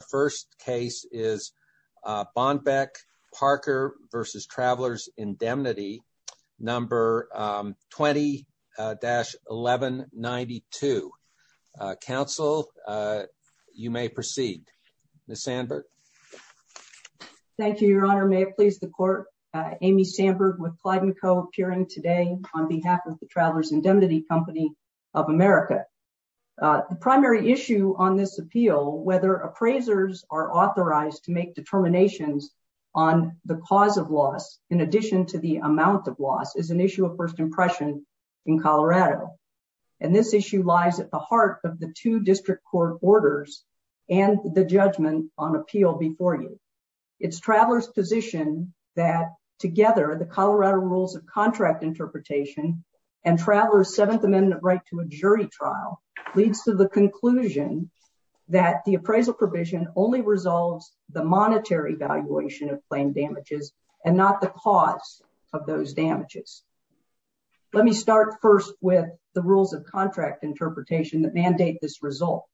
The first case is Bonbeck Parker v. Travelers Indemnity, number 20-1192. Counsel, you may proceed. Ms. Sandberg? Thank you, Your Honor. May it please the court, Amy Sandberg with Clyde & Co. appearing today on behalf of the Travelers Indemnity Company of America. The primary issue on this appeal, whether appraisers are authorized to make determinations on the cause of loss in addition to the amount of loss, is an issue of first impression in Colorado, and this issue lies at the heart of the two district court orders and the judgment on appeal before you. It's Travelers' position that together the Colorado Rules of Contract Interpretation and Travelers' Seventh Amendment right to a jury trial leads to the conclusion that the appraisal provision only resolves the monetary valuation of claim damages and not the cause of those damages. Let me start first with the Rules of Contract Interpretation that mandate this result.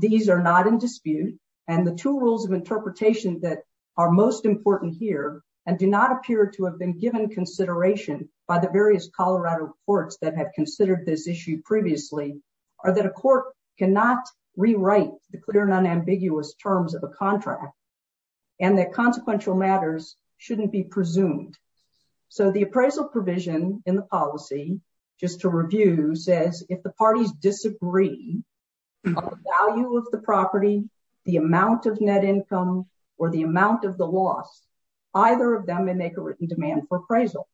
These are not in dispute, and the two rules of interpretation that are most important here and do not appear to have been given consideration by the various Colorado courts that have considered this issue previously are that a court cannot rewrite the clear and unambiguous terms of a contract, and that consequential matters shouldn't be presumed. So the appraisal provision in the policy, just to review, says if the parties disagree on the value of the property, the amount of net income, or the amount of the loss, either of them may make a written demand for appraisal,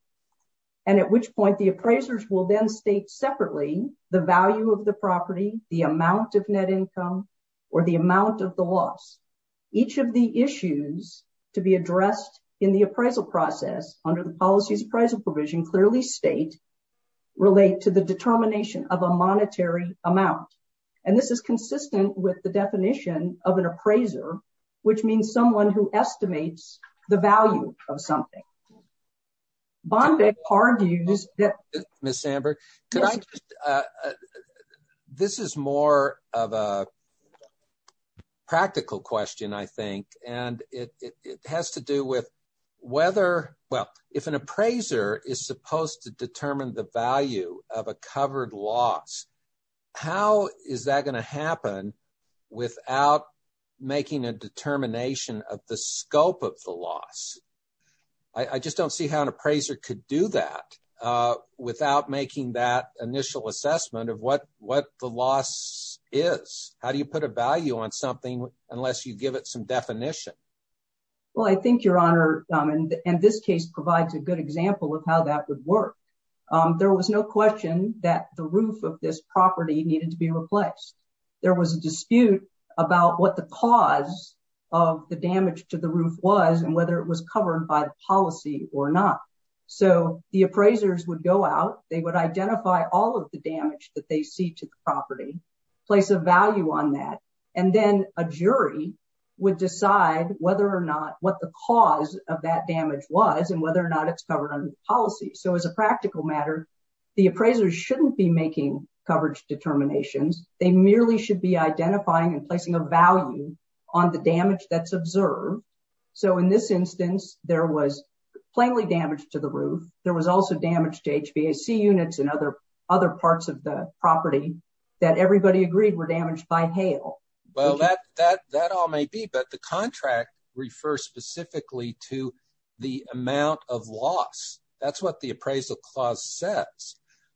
and at which point the appraisers will then state separately the value of the property, the amount of net income, or the amount of the loss. Each of the issues to be addressed in the appraisal process under the policy's appraisal provision clearly state, relate to the determination of a monetary amount, and this is consistent with the definition of an appraiser, which means someone who estimates the value of something. Bondi argues that— Ms. Amber, could I just—this is more of a practical question, I think, and it has to do with whether—well, if an appraiser is supposed to determine the value of a covered loss, how is that going to happen without making a determination of the scope of the loss? I just don't see how an appraiser could do that without making that initial assessment of what the loss is. How do you put a value on something unless you give it some definition? Well, I think, Your Honor, and this case provides a good example of how that would work. There was no question that the roof of this property needed to be replaced. There was a dispute about what the cause of the damage to the roof was and whether it was covered by the policy or not. So the appraisers would go out, they would identify all of the damage that they see to the property, place a value on that, and then a jury would decide whether or not—what the cause of that damage was and whether or not it's covered under the policy. So as a practical matter, the appraisers shouldn't be making coverage determinations. They merely should be identifying and placing a value on the damage that's observed. So in this instance, there was plainly damage to the roof. There was also damage to HVAC units and other parts of the property that everybody agreed were damaged by hail. Well, that all may be, but the contract refers specifically to the amount of loss. That's what the appraisal clause says.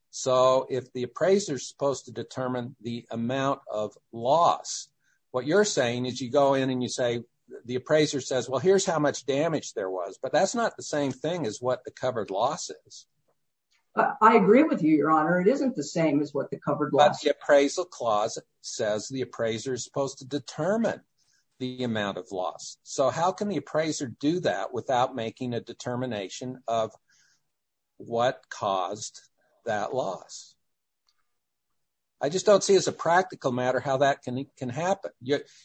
So if the appraiser is supposed to determine the amount of loss, what you're saying is you go in and you say—the appraiser says, well, here's how much damage there was. But that's not the same thing as what the covered loss is. I agree with you, Your Honor. It isn't the same as what the covered loss is. But the appraisal clause says the appraiser is supposed to determine the amount of loss. So how can the appraiser do that without making a determination of what caused that loss? I just don't see, as a practical matter, how that can happen.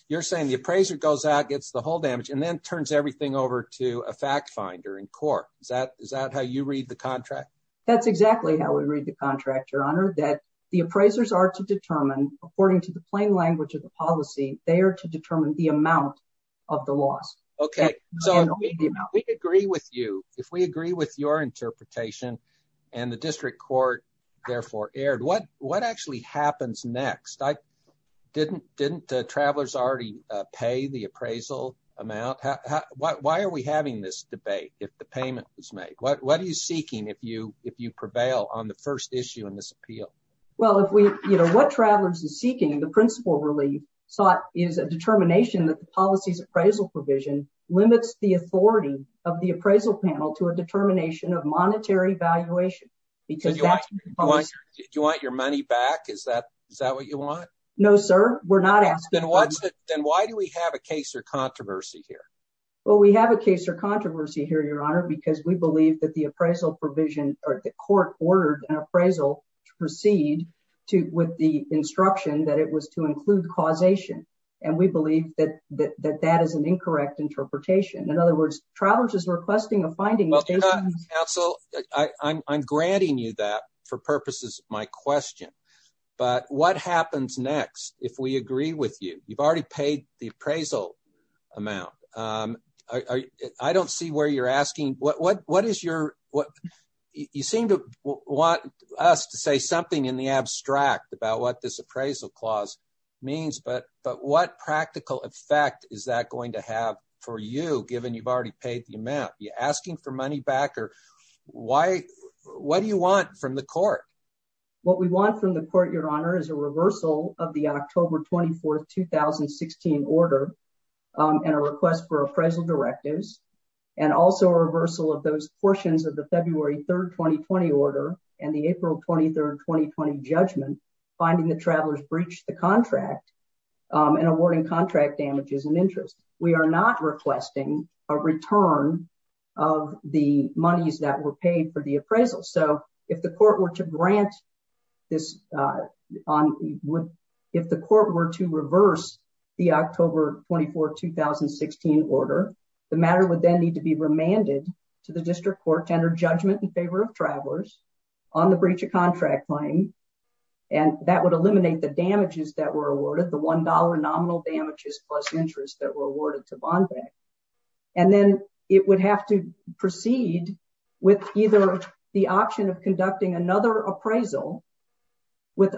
You're saying the appraiser goes out, gets the whole damage, and then turns everything over to a fact finder in court. Is that how you read the contract? That's exactly how we read the contract, Your Honor. That the appraisers are to determine, according to the plain language of the policy, they Okay, so if we agree with you, if we agree with your interpretation, and the district court therefore erred, what actually happens next? Didn't travelers already pay the appraisal amount? Why are we having this debate if the payment was made? What are you seeking if you prevail on the first issue in this appeal? Well, if we—you know, what travelers are seeking, the principal relief is a determination that the policy's appraisal provision limits the authority of the appraisal panel to a determination of monetary valuation. Do you want your money back? Is that what you want? No, sir. We're not asking for— Then why do we have a case or controversy here? Well, we have a case or controversy here, Your Honor, because we believe that the appraisal provision—or the court ordered an appraisal to proceed with the instruction that it was to include causation. And we believe that that is an incorrect interpretation. In other words, travelers are requesting a finding— Well, Your Honor, counsel, I'm granting you that for purposes of my question, but what happens next if we agree with you? You've already paid the appraisal amount. I don't see where you're asking—what is your—you seem to want us to say something in the abstract about what this appraisal clause means, but what practical effect is that going to have for you, given you've already paid the amount? Are you asking for money back, or why—what do you want from the court? What we want from the court, Your Honor, is a reversal of the October 24, 2016, order and a request for appraisal directives, and also a reversal of those portions of the February 3, 2020, order and the April 23, 2020, judgment, finding the travelers breached the contract and awarding contract damages and interest. We are not requesting a return of the monies that were paid for the appraisal. So, if the court were to grant this—if the court were to reverse the October 24, 2016, order, the matter would then need to be remanded to the district court to enter judgment in favor of travelers on the breach of contract claim, and that would eliminate the damages that were awarded, the $1 nominal damages plus interest that were awarded to Bond Bank. And then it would have to proceed with either the option of conducting another appraisal with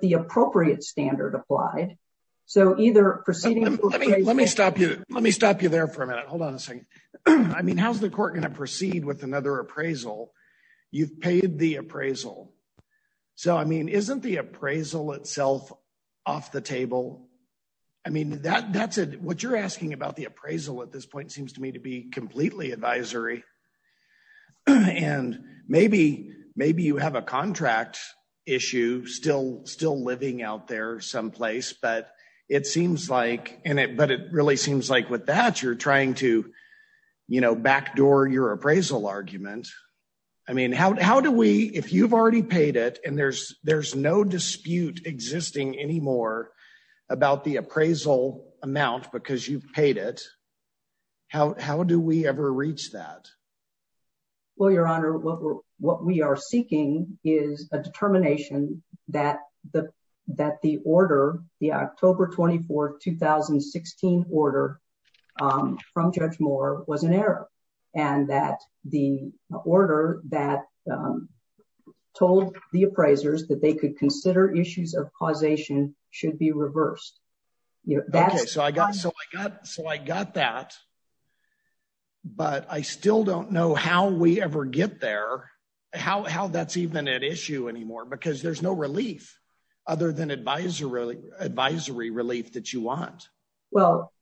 the appropriate standard applied, so either proceeding— Let me stop you there for a minute. Hold on a second. I mean, how's the court going to proceed with another appraisal? You've paid the appraisal. So, I mean, isn't the appraisal itself off the table? I mean, that's a—what you're asking about the appraisal at this point seems to me to be completely advisory, and maybe you have a contract issue still living out there someplace, but it seems like—and it—but it really seems like with that you're trying to, you know, backdoor your appraisal argument. I mean, how do we—if you've already paid it and there's no dispute existing anymore about the appraisal amount because you've paid it, how do we ever reach that? Well, Your Honor, what we are seeking is a determination that the order, the October 24, 2016 order from Judge Moore was an error, and that the order that told the appraisers that they could consider issues of causation should be reversed. Okay, so I got that, but I still don't know how we ever get there, how that's even an issue anymore because there's no relief other than advisory relief that you want. Well,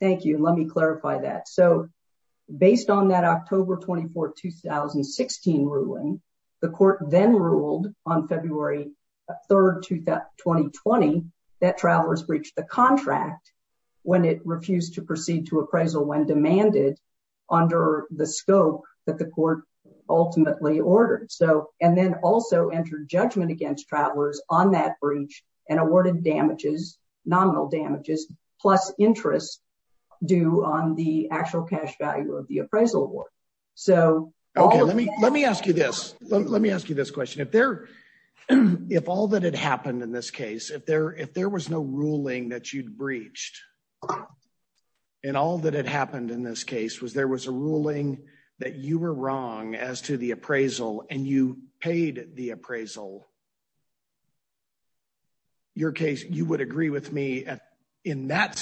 thank you. Let me clarify that. So, based on that October 24, 2016 ruling, the court then ruled on February 3, 2020 that Travelers breached the contract when it refused to proceed to appraisal when demanded under the scope that the court ultimately ordered. So—and then also entered judgment against Travelers on that breach and awarded damages, nominal damages, plus interest due on the actual cash value of the appraisal award. So— Let me ask you this question. If all that had happened in this case, if there was no ruling that you'd breached, and all that had happened in this case was there was a ruling that you were wrong as to the appraisal and you paid the appraisal, you would agree with me in that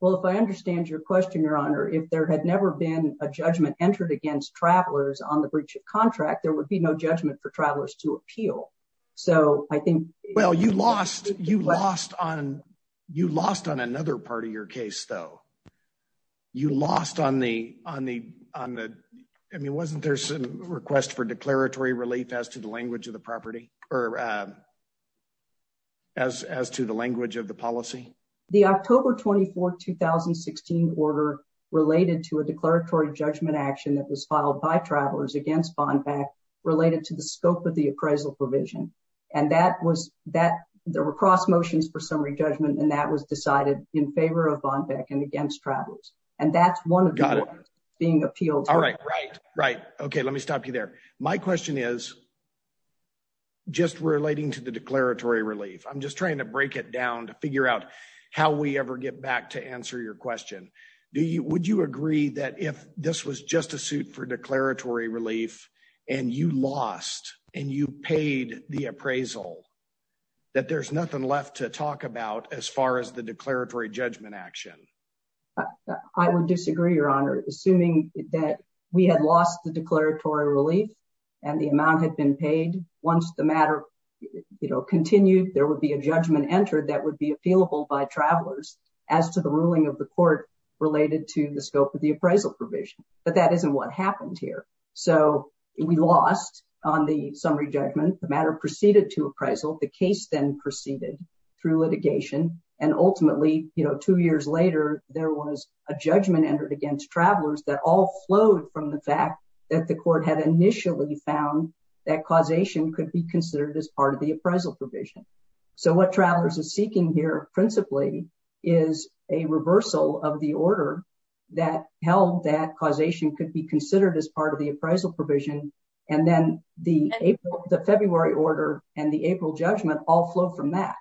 Well, if I understand your question, Your Honor, if there had never been a judgment entered against Travelers on the breach of contract, there would be no judgment for Travelers to appeal. So, I think— Well, you lost on another part of your case, though. You lost on the—I mean, wasn't there some request for declaratory relief as to the language of the The October 24, 2016 order related to a declaratory judgment action that was filed by Travelers against Bonpack related to the scope of the appraisal provision. And that was—there were cross motions for summary judgment, and that was decided in favor of Bonpack and against Travelers. And that's one of the— Got it. —being appealed. All right, right, right. Okay, let me stop you there. My question is, just relating to the declaratory relief, I'm just trying to break it down to figure out how we ever get back to answer your question. Would you agree that if this was just a suit for declaratory relief and you lost and you paid the appraisal, that there's nothing left to talk about as far as the declaratory judgment action? I would disagree, Your Honor. Assuming that we had lost the declaratory relief and the amount had been paid, once the matter continued, there would be a judgment entered that would be appealable by Travelers as to the ruling of the court related to the scope of the appraisal provision. But that isn't what happened here. So we lost on the summary judgment. The matter proceeded to appraisal. The case then proceeded through litigation. And ultimately, two years later, there was a judgment entered against Travelers that all flowed from the fact that the court had initially found that causation could be considered as part of the appraisal provision. So what Travelers is seeking here, principally, is a reversal of the order that held that causation could be considered as part of the appraisal provision. And then the April, the February order and the April judgment all flow from that.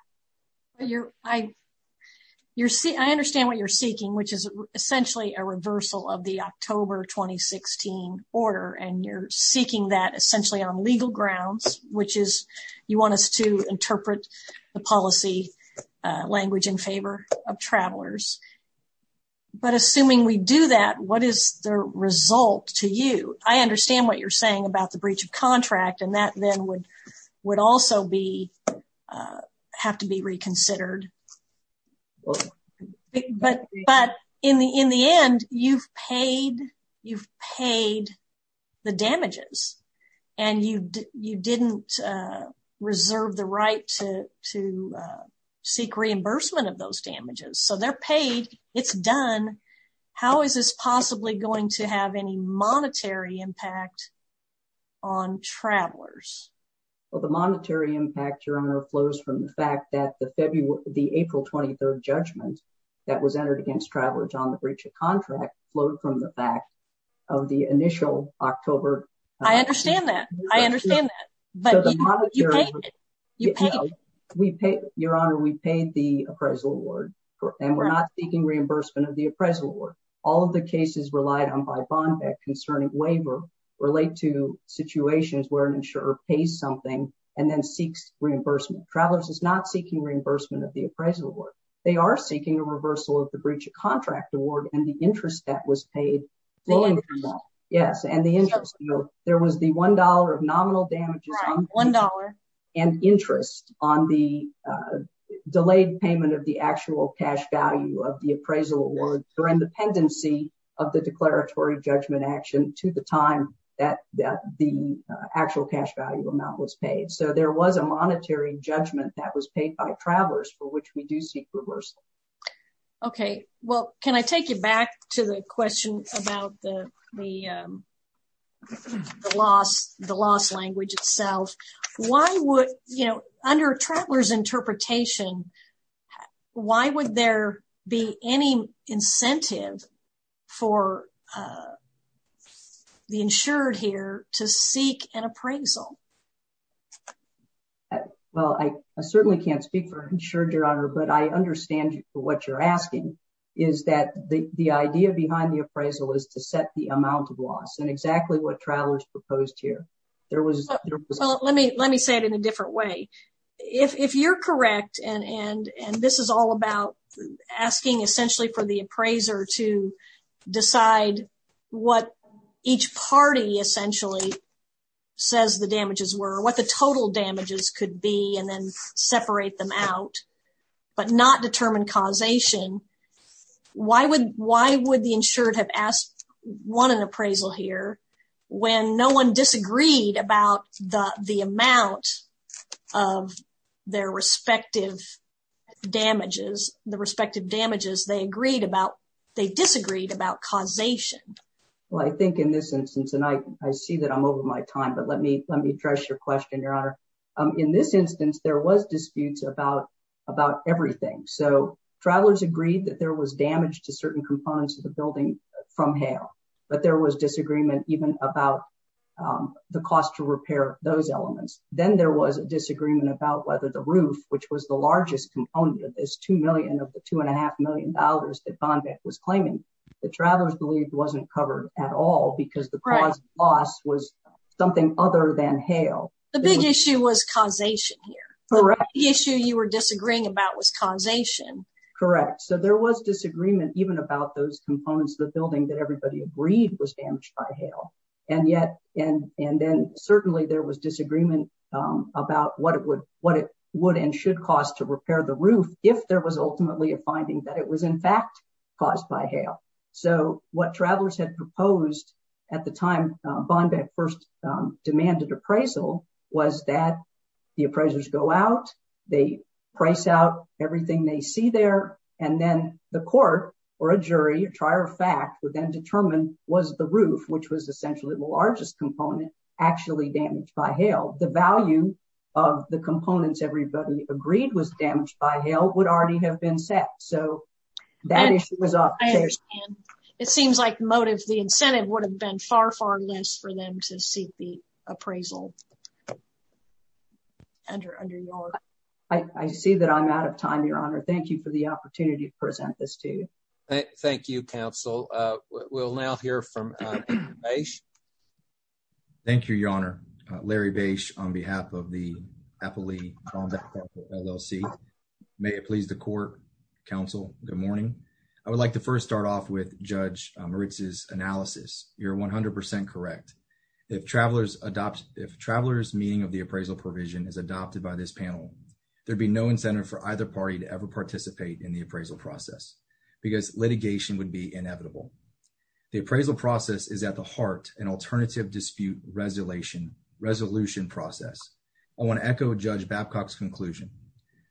I understand what you're seeking, which is essentially a reversal of the October 2016 order. And you're seeking that essentially on legal grounds, which is you want us to interpret the policy language in favor of Travelers. But assuming we do that, what is the result to you? I understand what you're saying about the breach of contract. And that then would also have to be reconsidered. But in the end, you've paid the damages. And you didn't reserve the right to seek reimbursement of those damages. So they're paid. It's done. How is this possibly going to have any monetary impact on Travelers? Well, the monetary impact, Your Honor, flows from the fact that the April 23rd judgment that was entered against Travelers on the breach of contract flowed from the fact of the initial October. I understand that. I understand that. But you paid it. You paid it. We paid, Your Honor, we paid the appraisal award. And we're not seeking reimbursement of the appraisal award. All of the cases relied on by Bond Act concerning waiver relate to situations where an insurer pays something and then seeks reimbursement. Travelers is not seeking reimbursement of the appraisal award. They are seeking a reversal of the breach of contract award and the interest that was paid flowing from that. Yes, and the interest. There was the $1 of nominal damages and interest on the delayed payment of the actual cash value of the appraisal award for independency of the declaratory judgment action to the time that the actual cash value amount was paid. So there was a monetary judgment that was paid by Travelers for which we do seek itself. Why would, you know, under Travelers interpretation, why would there be any incentive for the insured here to seek an appraisal? Well, I certainly can't speak for insured, Your Honor, but I understand what you're asking is that the idea behind the appraisal is to set the amount of loss and exactly what Travelers proposed here. Let me say it in a different way. If you're correct, and this is all about asking essentially for the appraiser to decide what each party essentially says the damages were, what the total damages could be, and then separate them out, but not determine causation, why would the insured have asked, won an appraisal here when no one disagreed about the amount of their respective damages, the respective damages they agreed about, they disagreed about causation? Well, I think in this instance, and I see that I'm over my time, but let me address your question, Your Honor. In this instance, there was disputes about everything. So Travelers agreed that there was damage to certain components of the building from hail, but there was disagreement even about the cost to repair those elements. Then there was a disagreement about whether the roof, which was the largest component of this two million of the two and a half million dollars that Von Beck was claiming, that Travelers believed wasn't covered at all because the cause of loss was something other than hail. The big issue was causation here. Correct. The issue you were disagreeing about was causation. Correct. So there was disagreement even about those components of the building that everybody agreed was damaged by hail, and then certainly there was disagreement about what it would and should cost to repair the roof if there was ultimately a finding that it was in fact caused by hail. So what Travelers had they price out everything they see there, and then the court or a jury, a trier of fact, would then determine was the roof, which was essentially the largest component, actually damaged by hail. The value of the components everybody agreed was damaged by hail would already have been set. So that issue was up. I understand. It seems like motive, the incentive, would have been far, far less for them to seek the appraisal. I see that I'm out of time, Your Honor. Thank you for the opportunity to present this to you. Thank you, counsel. We'll now hear from Larry Bache. Thank you, Your Honor. Larry Bache on behalf of the Appalachian-Von Beck LLC. May it please the You're 100% correct. If Travelers' meaning of the appraisal provision is adopted by this panel, there'd be no incentive for either party to ever participate in the appraisal process because litigation would be inevitable. The appraisal process is at the heart an alternative dispute resolution process. I want to echo Judge Babcock's conclusion.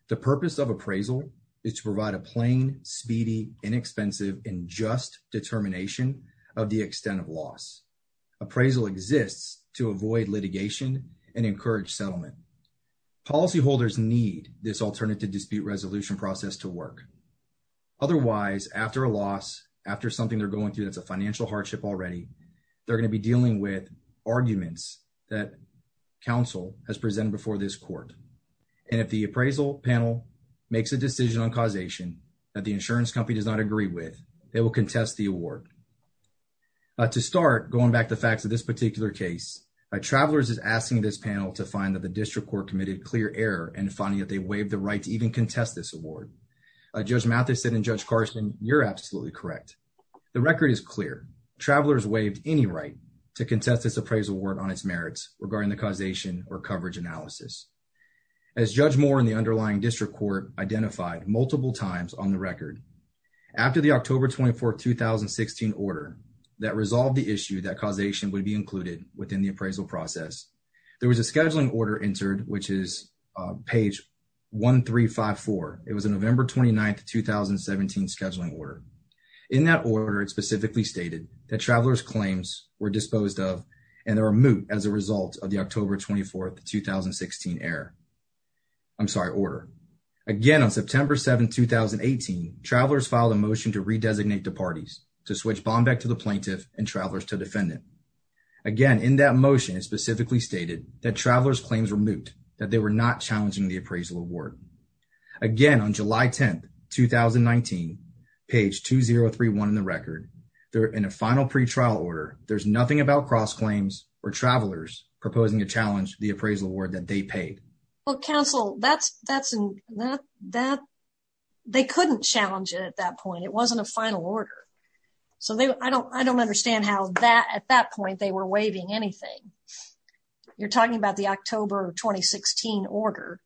The purpose of appraisal is to provide a plain, speedy, inexpensive, and just determination of the extent of loss. Appraisal exists to avoid litigation and encourage settlement. Policyholders need this alternative dispute resolution process to work. Otherwise, after a loss, after something they're going through that's a financial hardship already, they're going to be dealing with arguments that the appraisal panel makes a decision on causation that the insurance company does not agree with. They will contest the award. To start, going back to the facts of this particular case, Travelers is asking this panel to find that the district court committed clear error in finding that they waived the right to even contest this award. Judge Mathison and Judge Carson, you're absolutely correct. The record is clear. Travelers waived any right to contest this coverage analysis. As Judge Moore and the underlying district court identified multiple times on the record, after the October 24, 2016, order that resolved the issue that causation would be included within the appraisal process, there was a scheduling order entered, which is page 1354. It was a November 29, 2017, scheduling order. In that order, it specifically stated that Travelers' claims were disposed of and they were moot as a result of the October 24, 2016, order. Again, on September 7, 2018, Travelers filed a motion to redesignate the parties, to switch Bombeck to the plaintiff and Travelers to defendant. Again, in that motion, it specifically stated that Travelers' claims were moot, that they were not challenging the appraisal award. Again, on July 10, 2019, page 2031 in the record, in a final pretrial order, there's nothing about cross-claims or Travelers proposing to challenge the appraisal award that they paid. Well, counsel, they couldn't challenge it at that point. It wasn't a final order. So, I don't understand how, at that point, they were waiving anything. You're talking about the October 2016 order.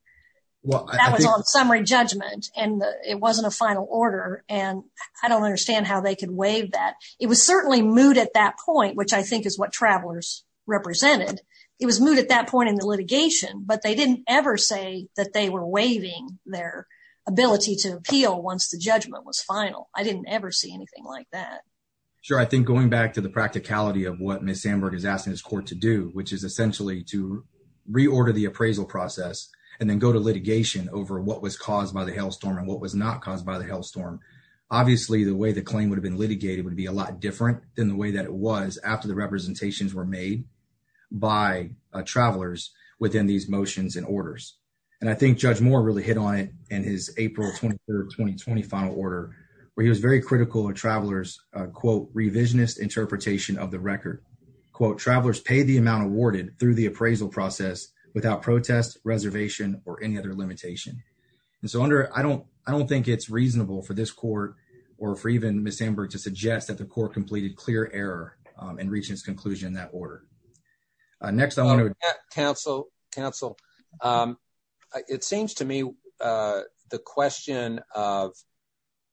That was on summary judgment and it wasn't a final order. I don't understand how they could waive that. It was certainly moot at that point, which I think is what Travelers represented. It was moot at that point in the litigation, but they didn't ever say that they were waiving their ability to appeal once the judgment was final. I didn't ever see anything like that. Sure. I think going back to the practicality of what Ms. Sandberg is asking this court to do, which is essentially to reorder the appraisal process and then go to litigation over what was caused by the hailstorm and what was not caused by the hailstorm. Obviously, the way the claim would have been litigated would be a lot different than the way that it was after the representations were made by Travelers within these motions and orders. I think Judge Moore really hit on it in his April 23, 2020 final order, where he was very quote, Travelers pay the amount awarded through the appraisal process without protest, reservation, or any other limitation. I don't think it's reasonable for this court or for even Ms. Sandberg to suggest that the court completed clear error in reaching its conclusion in that order. Next, I want to counsel counsel. It seems to me the question of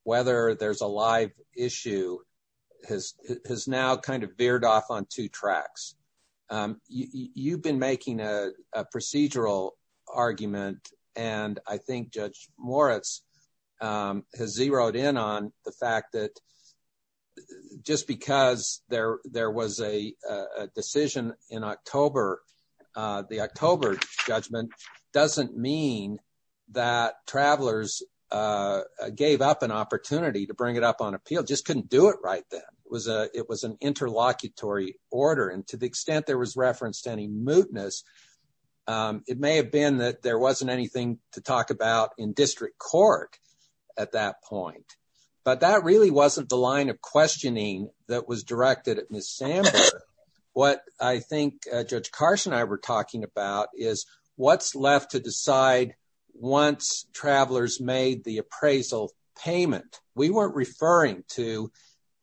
whether there's a live issue has now kind of veered off on two tracks. You've been making a procedural argument, and I think Judge Moritz has zeroed in on the fact that just because there was a decision in October, the October judgment doesn't mean that Travelers gave up an opportunity to bring on appeal. They just couldn't do it right then. It was an interlocutory order, and to the extent there was reference to any mootness, it may have been that there wasn't anything to talk about in district court at that point. But that really wasn't the line of questioning that was directed at Ms. Sandberg. What I think Judge Karsh and I were talking about is what's left to decide once Travelers made the appraisal payment. We weren't referring to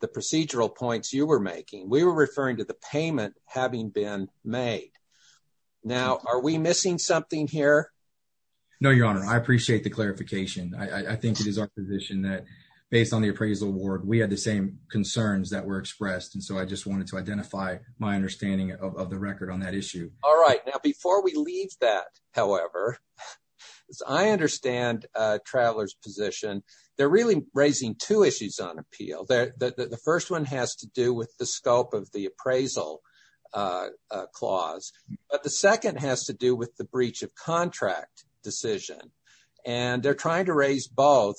the procedural points you were making. We were referring to the payment having been made. Now, are we missing something here? No, Your Honor. I appreciate the clarification. I think it is our position that based on the appraisal award, we had the same concerns that were expressed, and so I just wanted to identify my understanding of the record on that issue. All right. Now, before we leave that, however, as I understand Travelers' position, they're really raising two issues on appeal. The first one has to do with the scope of the appraisal clause, but the second has to do with the breach of contract decision, and they're trying to raise both.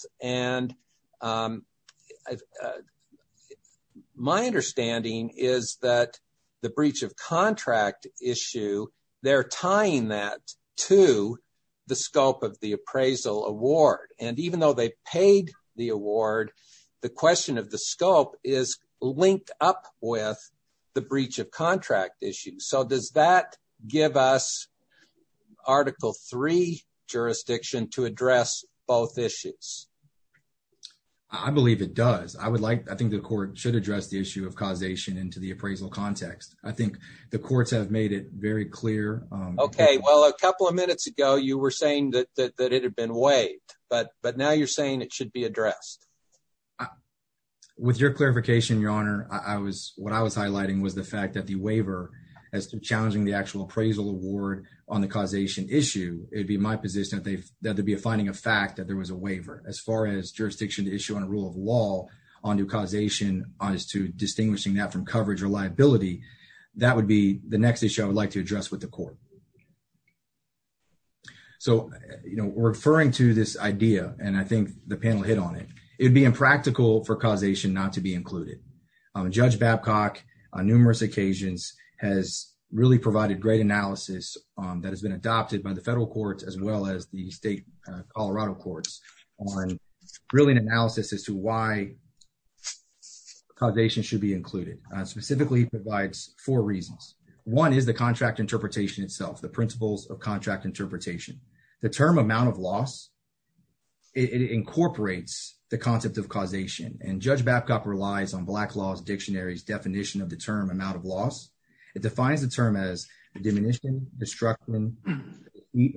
My understanding is that the breach of contract issue, they're tying that to the scope of the appraisal award. Even though they paid the award, the question of the scope is linked up with the breach of contract issue. Does that give us Article III jurisdiction to address both issues? I believe it does. I think the court should address the issue of causation into the appraisal context. I think the courts have made it very clear. Okay. Well, a couple of minutes ago, you were saying that it had been waived, but now you're saying it should be addressed. With your clarification, Your Honor, what I was highlighting was the fact that the waiver as to challenging the actual appraisal award on the causation issue, it'd be my position that there'd be a finding of fact that there was a waiver. As far as jurisdiction to issue on a rule of law onto causation as to distinguishing that from coverage or liability, that would be the next issue I would like to address with the court. Referring to this idea, and I think the it'd be impractical for causation not to be included. Judge Babcock, on numerous occasions, has really provided great analysis that has been adopted by the federal courts as well as the state Colorado courts on really an analysis as to why causation should be included. Specifically, it provides four reasons. One is the contract interpretation itself, the principles of causation. Judge Babcock relies on Black Laws Dictionary's definition of the term amount of loss. It defines the term as diminishing, destructing,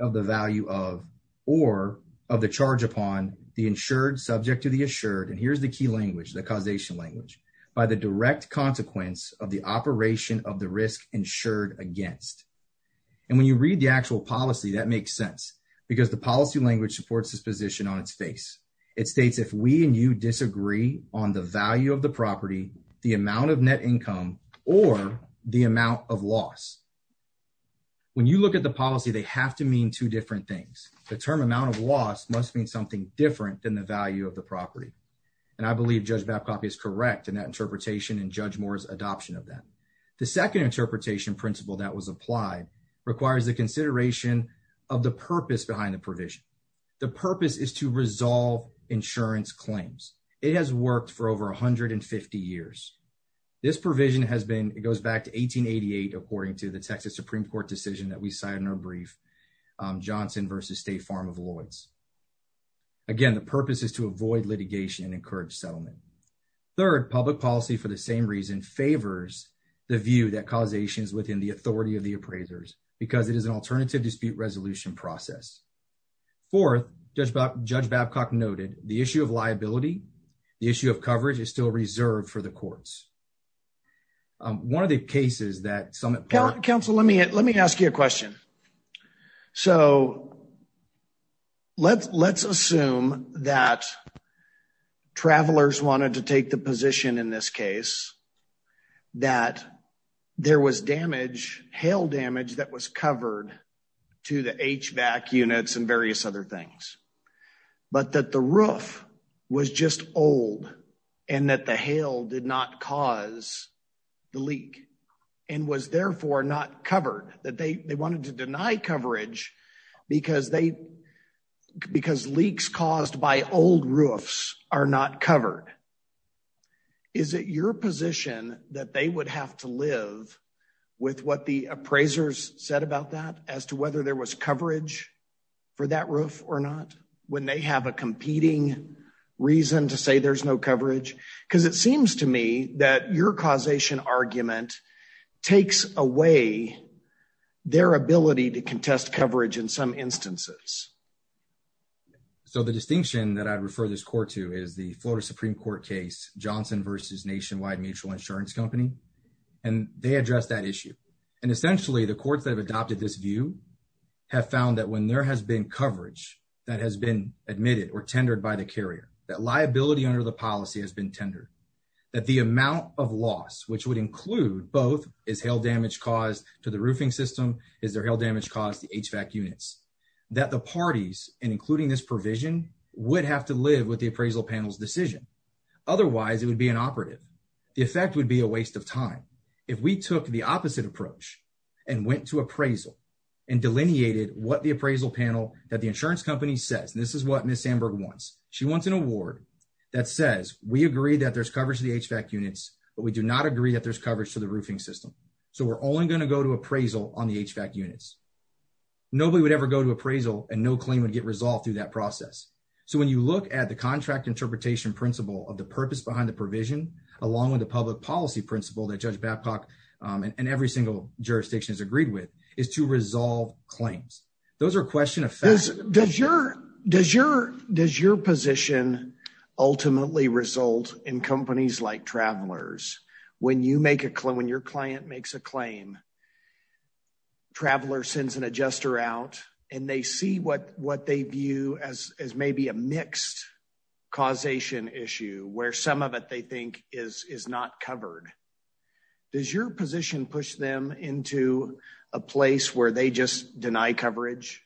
of the value of, or of the charge upon the insured subject to the assured, and here's the key language, the causation language, by the direct consequence of the operation of the risk insured against. When you read the actual policy, that makes sense because the policy language supports this position on its face. It states if we and you disagree on the value of the property, the amount of net income, or the amount of loss. When you look at the policy, they have to mean two different things. The term amount of loss must mean something different than the value of the property, and I believe Judge Babcock is correct in that interpretation and Judge Moore's adoption of that. The second interpretation principle that was applied requires the consideration of the purpose behind the provision. The purpose is to resolve insurance claims. It has worked for over 150 years. This provision has been, it goes back to 1888 according to the Texas Supreme Court decision that we cite in our brief, Johnson v. State Farm of Lloyds. Again, the purpose is to avoid litigation and encourage settlement. Third, public policy for the same reason favors the view that causation is within the authority of the appraisers because it is an alternative dispute resolution process. Fourth, Judge Babcock noted the issue of liability, the issue of coverage is still reserved for the courts. One of the cases that some... Council, let me ask you a question. So, let's assume that travelers wanted to take the position in this case that there was damage, hail damage, that was covered to the HVAC units and various other things, but that the roof was just old and that the hail did not cause the leak and was therefore not covered, that they wanted to deny coverage because leaks caused by old roofs are not covered. Is it your position that they would have to live with what the appraisers said about that as to whether there was coverage for that roof or not when they have a competing reason to say there's no coverage? Because it seems to me that your causation argument takes away their ability to contest coverage in some instances. So, the distinction that I'd refer this court to is the Supreme Court case, Johnson versus Nationwide Mutual Insurance Company, and they addressed that issue. And essentially, the courts that have adopted this view have found that when there has been coverage that has been admitted or tendered by the carrier, that liability under the policy has been tendered, that the amount of loss, which would include both is hail damage caused to the roofing system, is there hail damage caused to HVAC units, that the parties, and including this provision, would have to live with the appraisal panel's decision. Otherwise, it would be inoperative. The effect would be a waste of time. If we took the opposite approach and went to appraisal and delineated what the appraisal panel that the insurance company says, and this is what Ms. Sandberg wants, she wants an award that says we agree that there's coverage to the HVAC units, but we do not agree that there's coverage to the roofing system. So, we're only going to go to appraisal on the HVAC units. Nobody would ever go to appraisal and no one would ever go to appraisal and no one would ever go to an appraisal. So, what you would have to do is look at the contract interpretation principle of the purpose behind the provision, along with the public policy principle that Judge Babcock and every single jurisdiction has agreed with, is to resolve claims. Those are question of fact. Does your position ultimately result in companies like Travelers? When your client makes a claim, Traveler sends an adjuster out and they see what they view as maybe a mixed causation issue, where some of it they think is not covered. Does your position push them into a place where they just deny coverage?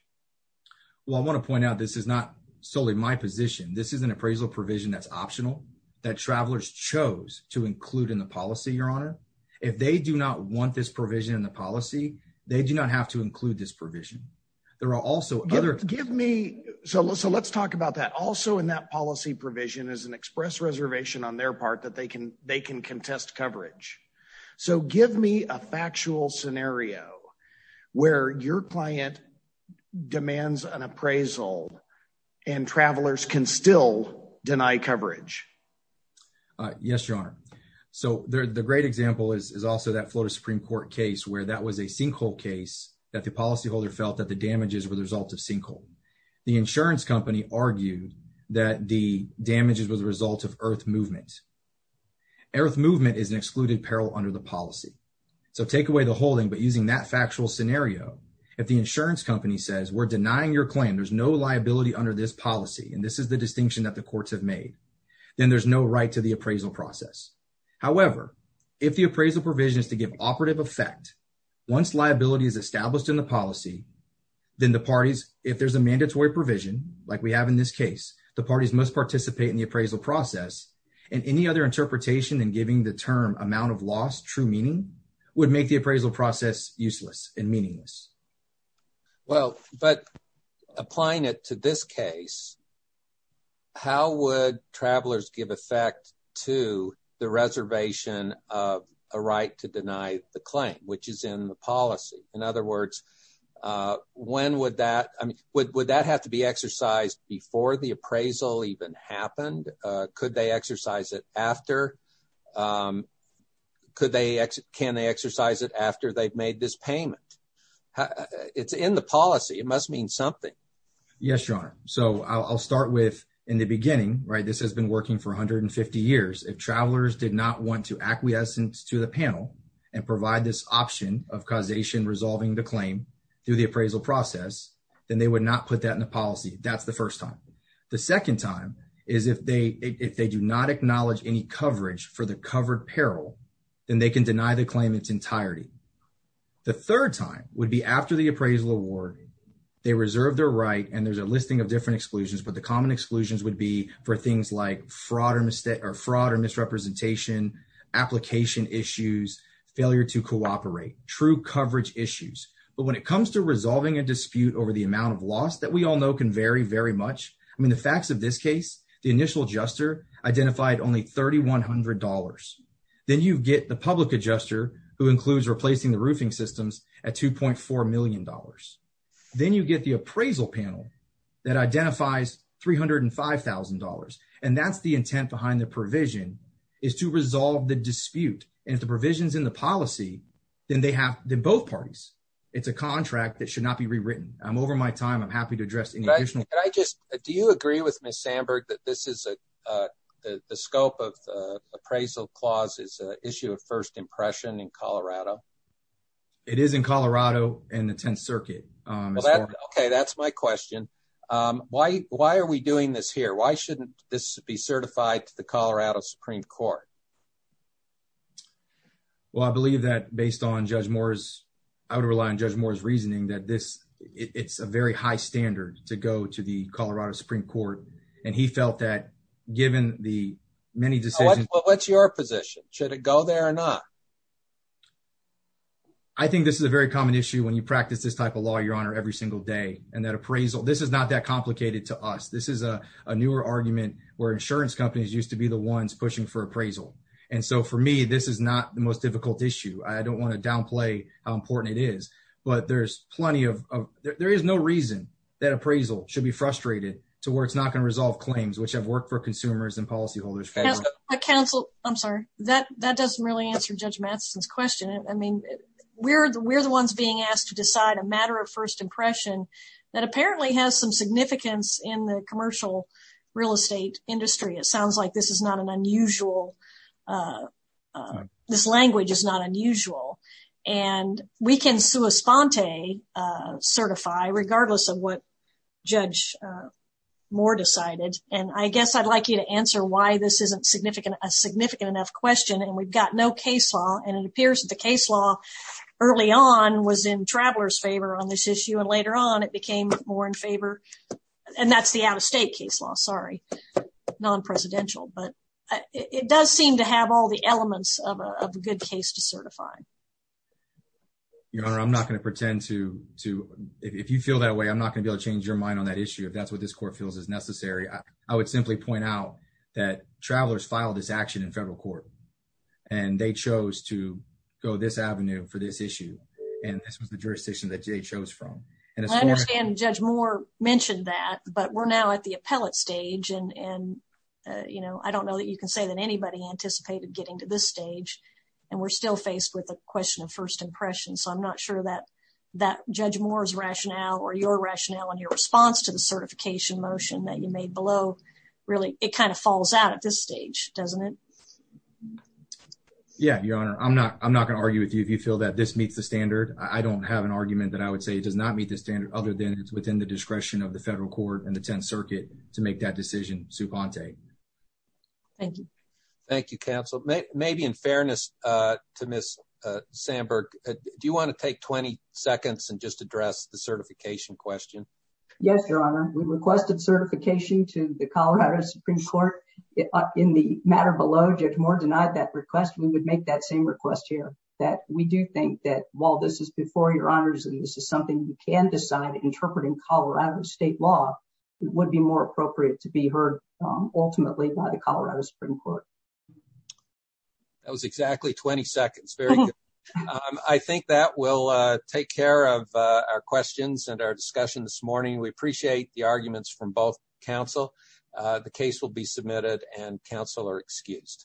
Well, I want to point out this is not solely my position. This is an appraisal provision that's optional, that Travelers chose to include in the policy, Your Honor. If they do not want this provision in the policy, they do not have to include this provision. There are also other... Give me... So, let's talk about that. Also in that policy provision is an express reservation on their part that they can contest coverage. So, give me a factual scenario where your client demands an appraisal and Travelers can still deny coverage. Yes, Your Honor. So, the great example is also that Florida Supreme Court case where that was a sinkhole case that the policyholder felt that the damages were the result of sinkhole. The insurance company argued that the damages was a result of earth movement. Earth movement is an excluded peril under the policy. So, take away the holding, but using that factual scenario, if the insurance company says, we're denying your claim, there's no liability under this policy. And this is the there's no right to the appraisal process. However, if the appraisal provision is to give operative effect, once liability is established in the policy, then the parties, if there's a mandatory provision, like we have in this case, the parties must participate in the appraisal process. And any other interpretation in giving the term amount of loss true meaning would make the appraisal process useless and meaningless. Well, but applying it to this case, how would travelers give effect to the reservation of a right to deny the claim, which is in the policy? In other words, when would that, I mean, would that have to be exercised before the appraisal even happened? Could they exercise it after? Could they, can they exercise it after they've made this payment? It's in the policy, it must mean something. Yes, Your Honor. So I'll start with in the beginning, right? This has been working for 150 years. If travelers did not want to acquiescence to the panel and provide this option of causation, resolving the claim through the appraisal process, then they would not put that in the policy. That's the first time. The second time is if they, if they do not acknowledge any coverage for the covered peril, then they can deny the claim its entirety. The third time would be after the appraisal award, they reserve their right and there's a listing of different exclusions, but the common exclusions would be for things like fraud or misrepresentation, application issues, failure to cooperate, true coverage issues. But when it comes to resolving a dispute over the amount of loss that we all know can vary very much. I mean, the facts of this case, the initial adjuster identified only $3,100. Then you get the public adjuster who includes replacing the roofing systems at $2.4 million. Then you get the appraisal panel that identifies $305,000. And that's the intent behind the provision is to resolve the dispute. And if the provision's in the policy, then they have, then both parties, it's a contract that should not be rewritten. I'm over my time. I'm happy to address any additional. Can I just, do you agree with Ms. Sandberg that this is a, the scope of the appraisal clause is a issue of first impression in Colorado? It is in Colorado and the 10th circuit. Okay. That's my question. Why, why are we doing this here? Why shouldn't this be certified to the Colorado Supreme Court? Well, I believe that based on Judge Moore's, I would rely on Judge Moore's reasoning that this, it's a very high standard to go to the Colorado Supreme Court. And he felt that given the many What's your position? Should it go there or not? I think this is a very common issue when you practice this type of law, your honor, every single day. And that appraisal, this is not that complicated to us. This is a newer argument where insurance companies used to be the ones pushing for appraisal. And so for me, this is not the most difficult issue. I don't want to downplay how important it is, but there's plenty of, there is no reason that appraisal should be frustrated to where it's not going work for consumers and policyholders, federal counsel. I'm sorry, that that doesn't really answer judge Madison's question. I mean, we're the, we're the ones being asked to decide a matter of first impression that apparently has some significance in the commercial real estate industry. It sounds like this is not an unusual this language is not unusual and we can sue a uh, certify regardless of what judge, uh, more decided. And I guess I'd like you to answer why this isn't significant, a significant enough question. And we've got no case law and it appears that the case law early on was in travelers favor on this issue. And later on, it became more in favor and that's the out of state case law, sorry, non-presidential, but it does seem to have all the elements of a good case to certify. You know, I'm not going to pretend to, to, if you feel that way, I'm not going to be able to change your mind on that issue. If that's what this court feels is necessary. I would simply point out that travelers filed this action in federal court and they chose to go this avenue for this issue. And this was the jurisdiction that Jay chose from. And it's more, and judge more mentioned that, but we're now at the appellate stage and, and uh, you know, I don't know that you say that anybody anticipated getting to this stage and we're still faced with the question of first impression. So I'm not sure that that judge Moore's rationale or your rationale and your response to the certification motion that you made below really, it kind of falls out at this stage, doesn't it? Yeah. Your honor. I'm not, I'm not going to argue with you. If you feel that this meets the standard, I don't have an argument that I would say it does not meet the standard other than it's within the discretion of the federal court and the 10th circuit to make that decision. Sue Ponte. Thank you. Thank you counsel. Maybe in fairness, uh, to miss, uh, Sandberg, do you want to take 20 seconds and just address the certification question? Yes, your honor. We requested certification to the Colorado Supreme court in the matter below judge more denied that request. We would make that same request here that we do think that while this is before your honors, and this is something you can decide interpreting Colorado state law, it would be more appropriate to be heard ultimately by the Colorado Supreme court. That was exactly 20 seconds. Very good. I think that will, uh, take care of, uh, our questions and our discussion this morning. We appreciate the arguments from both counsel. Uh, the case will be submitted and counselor excused.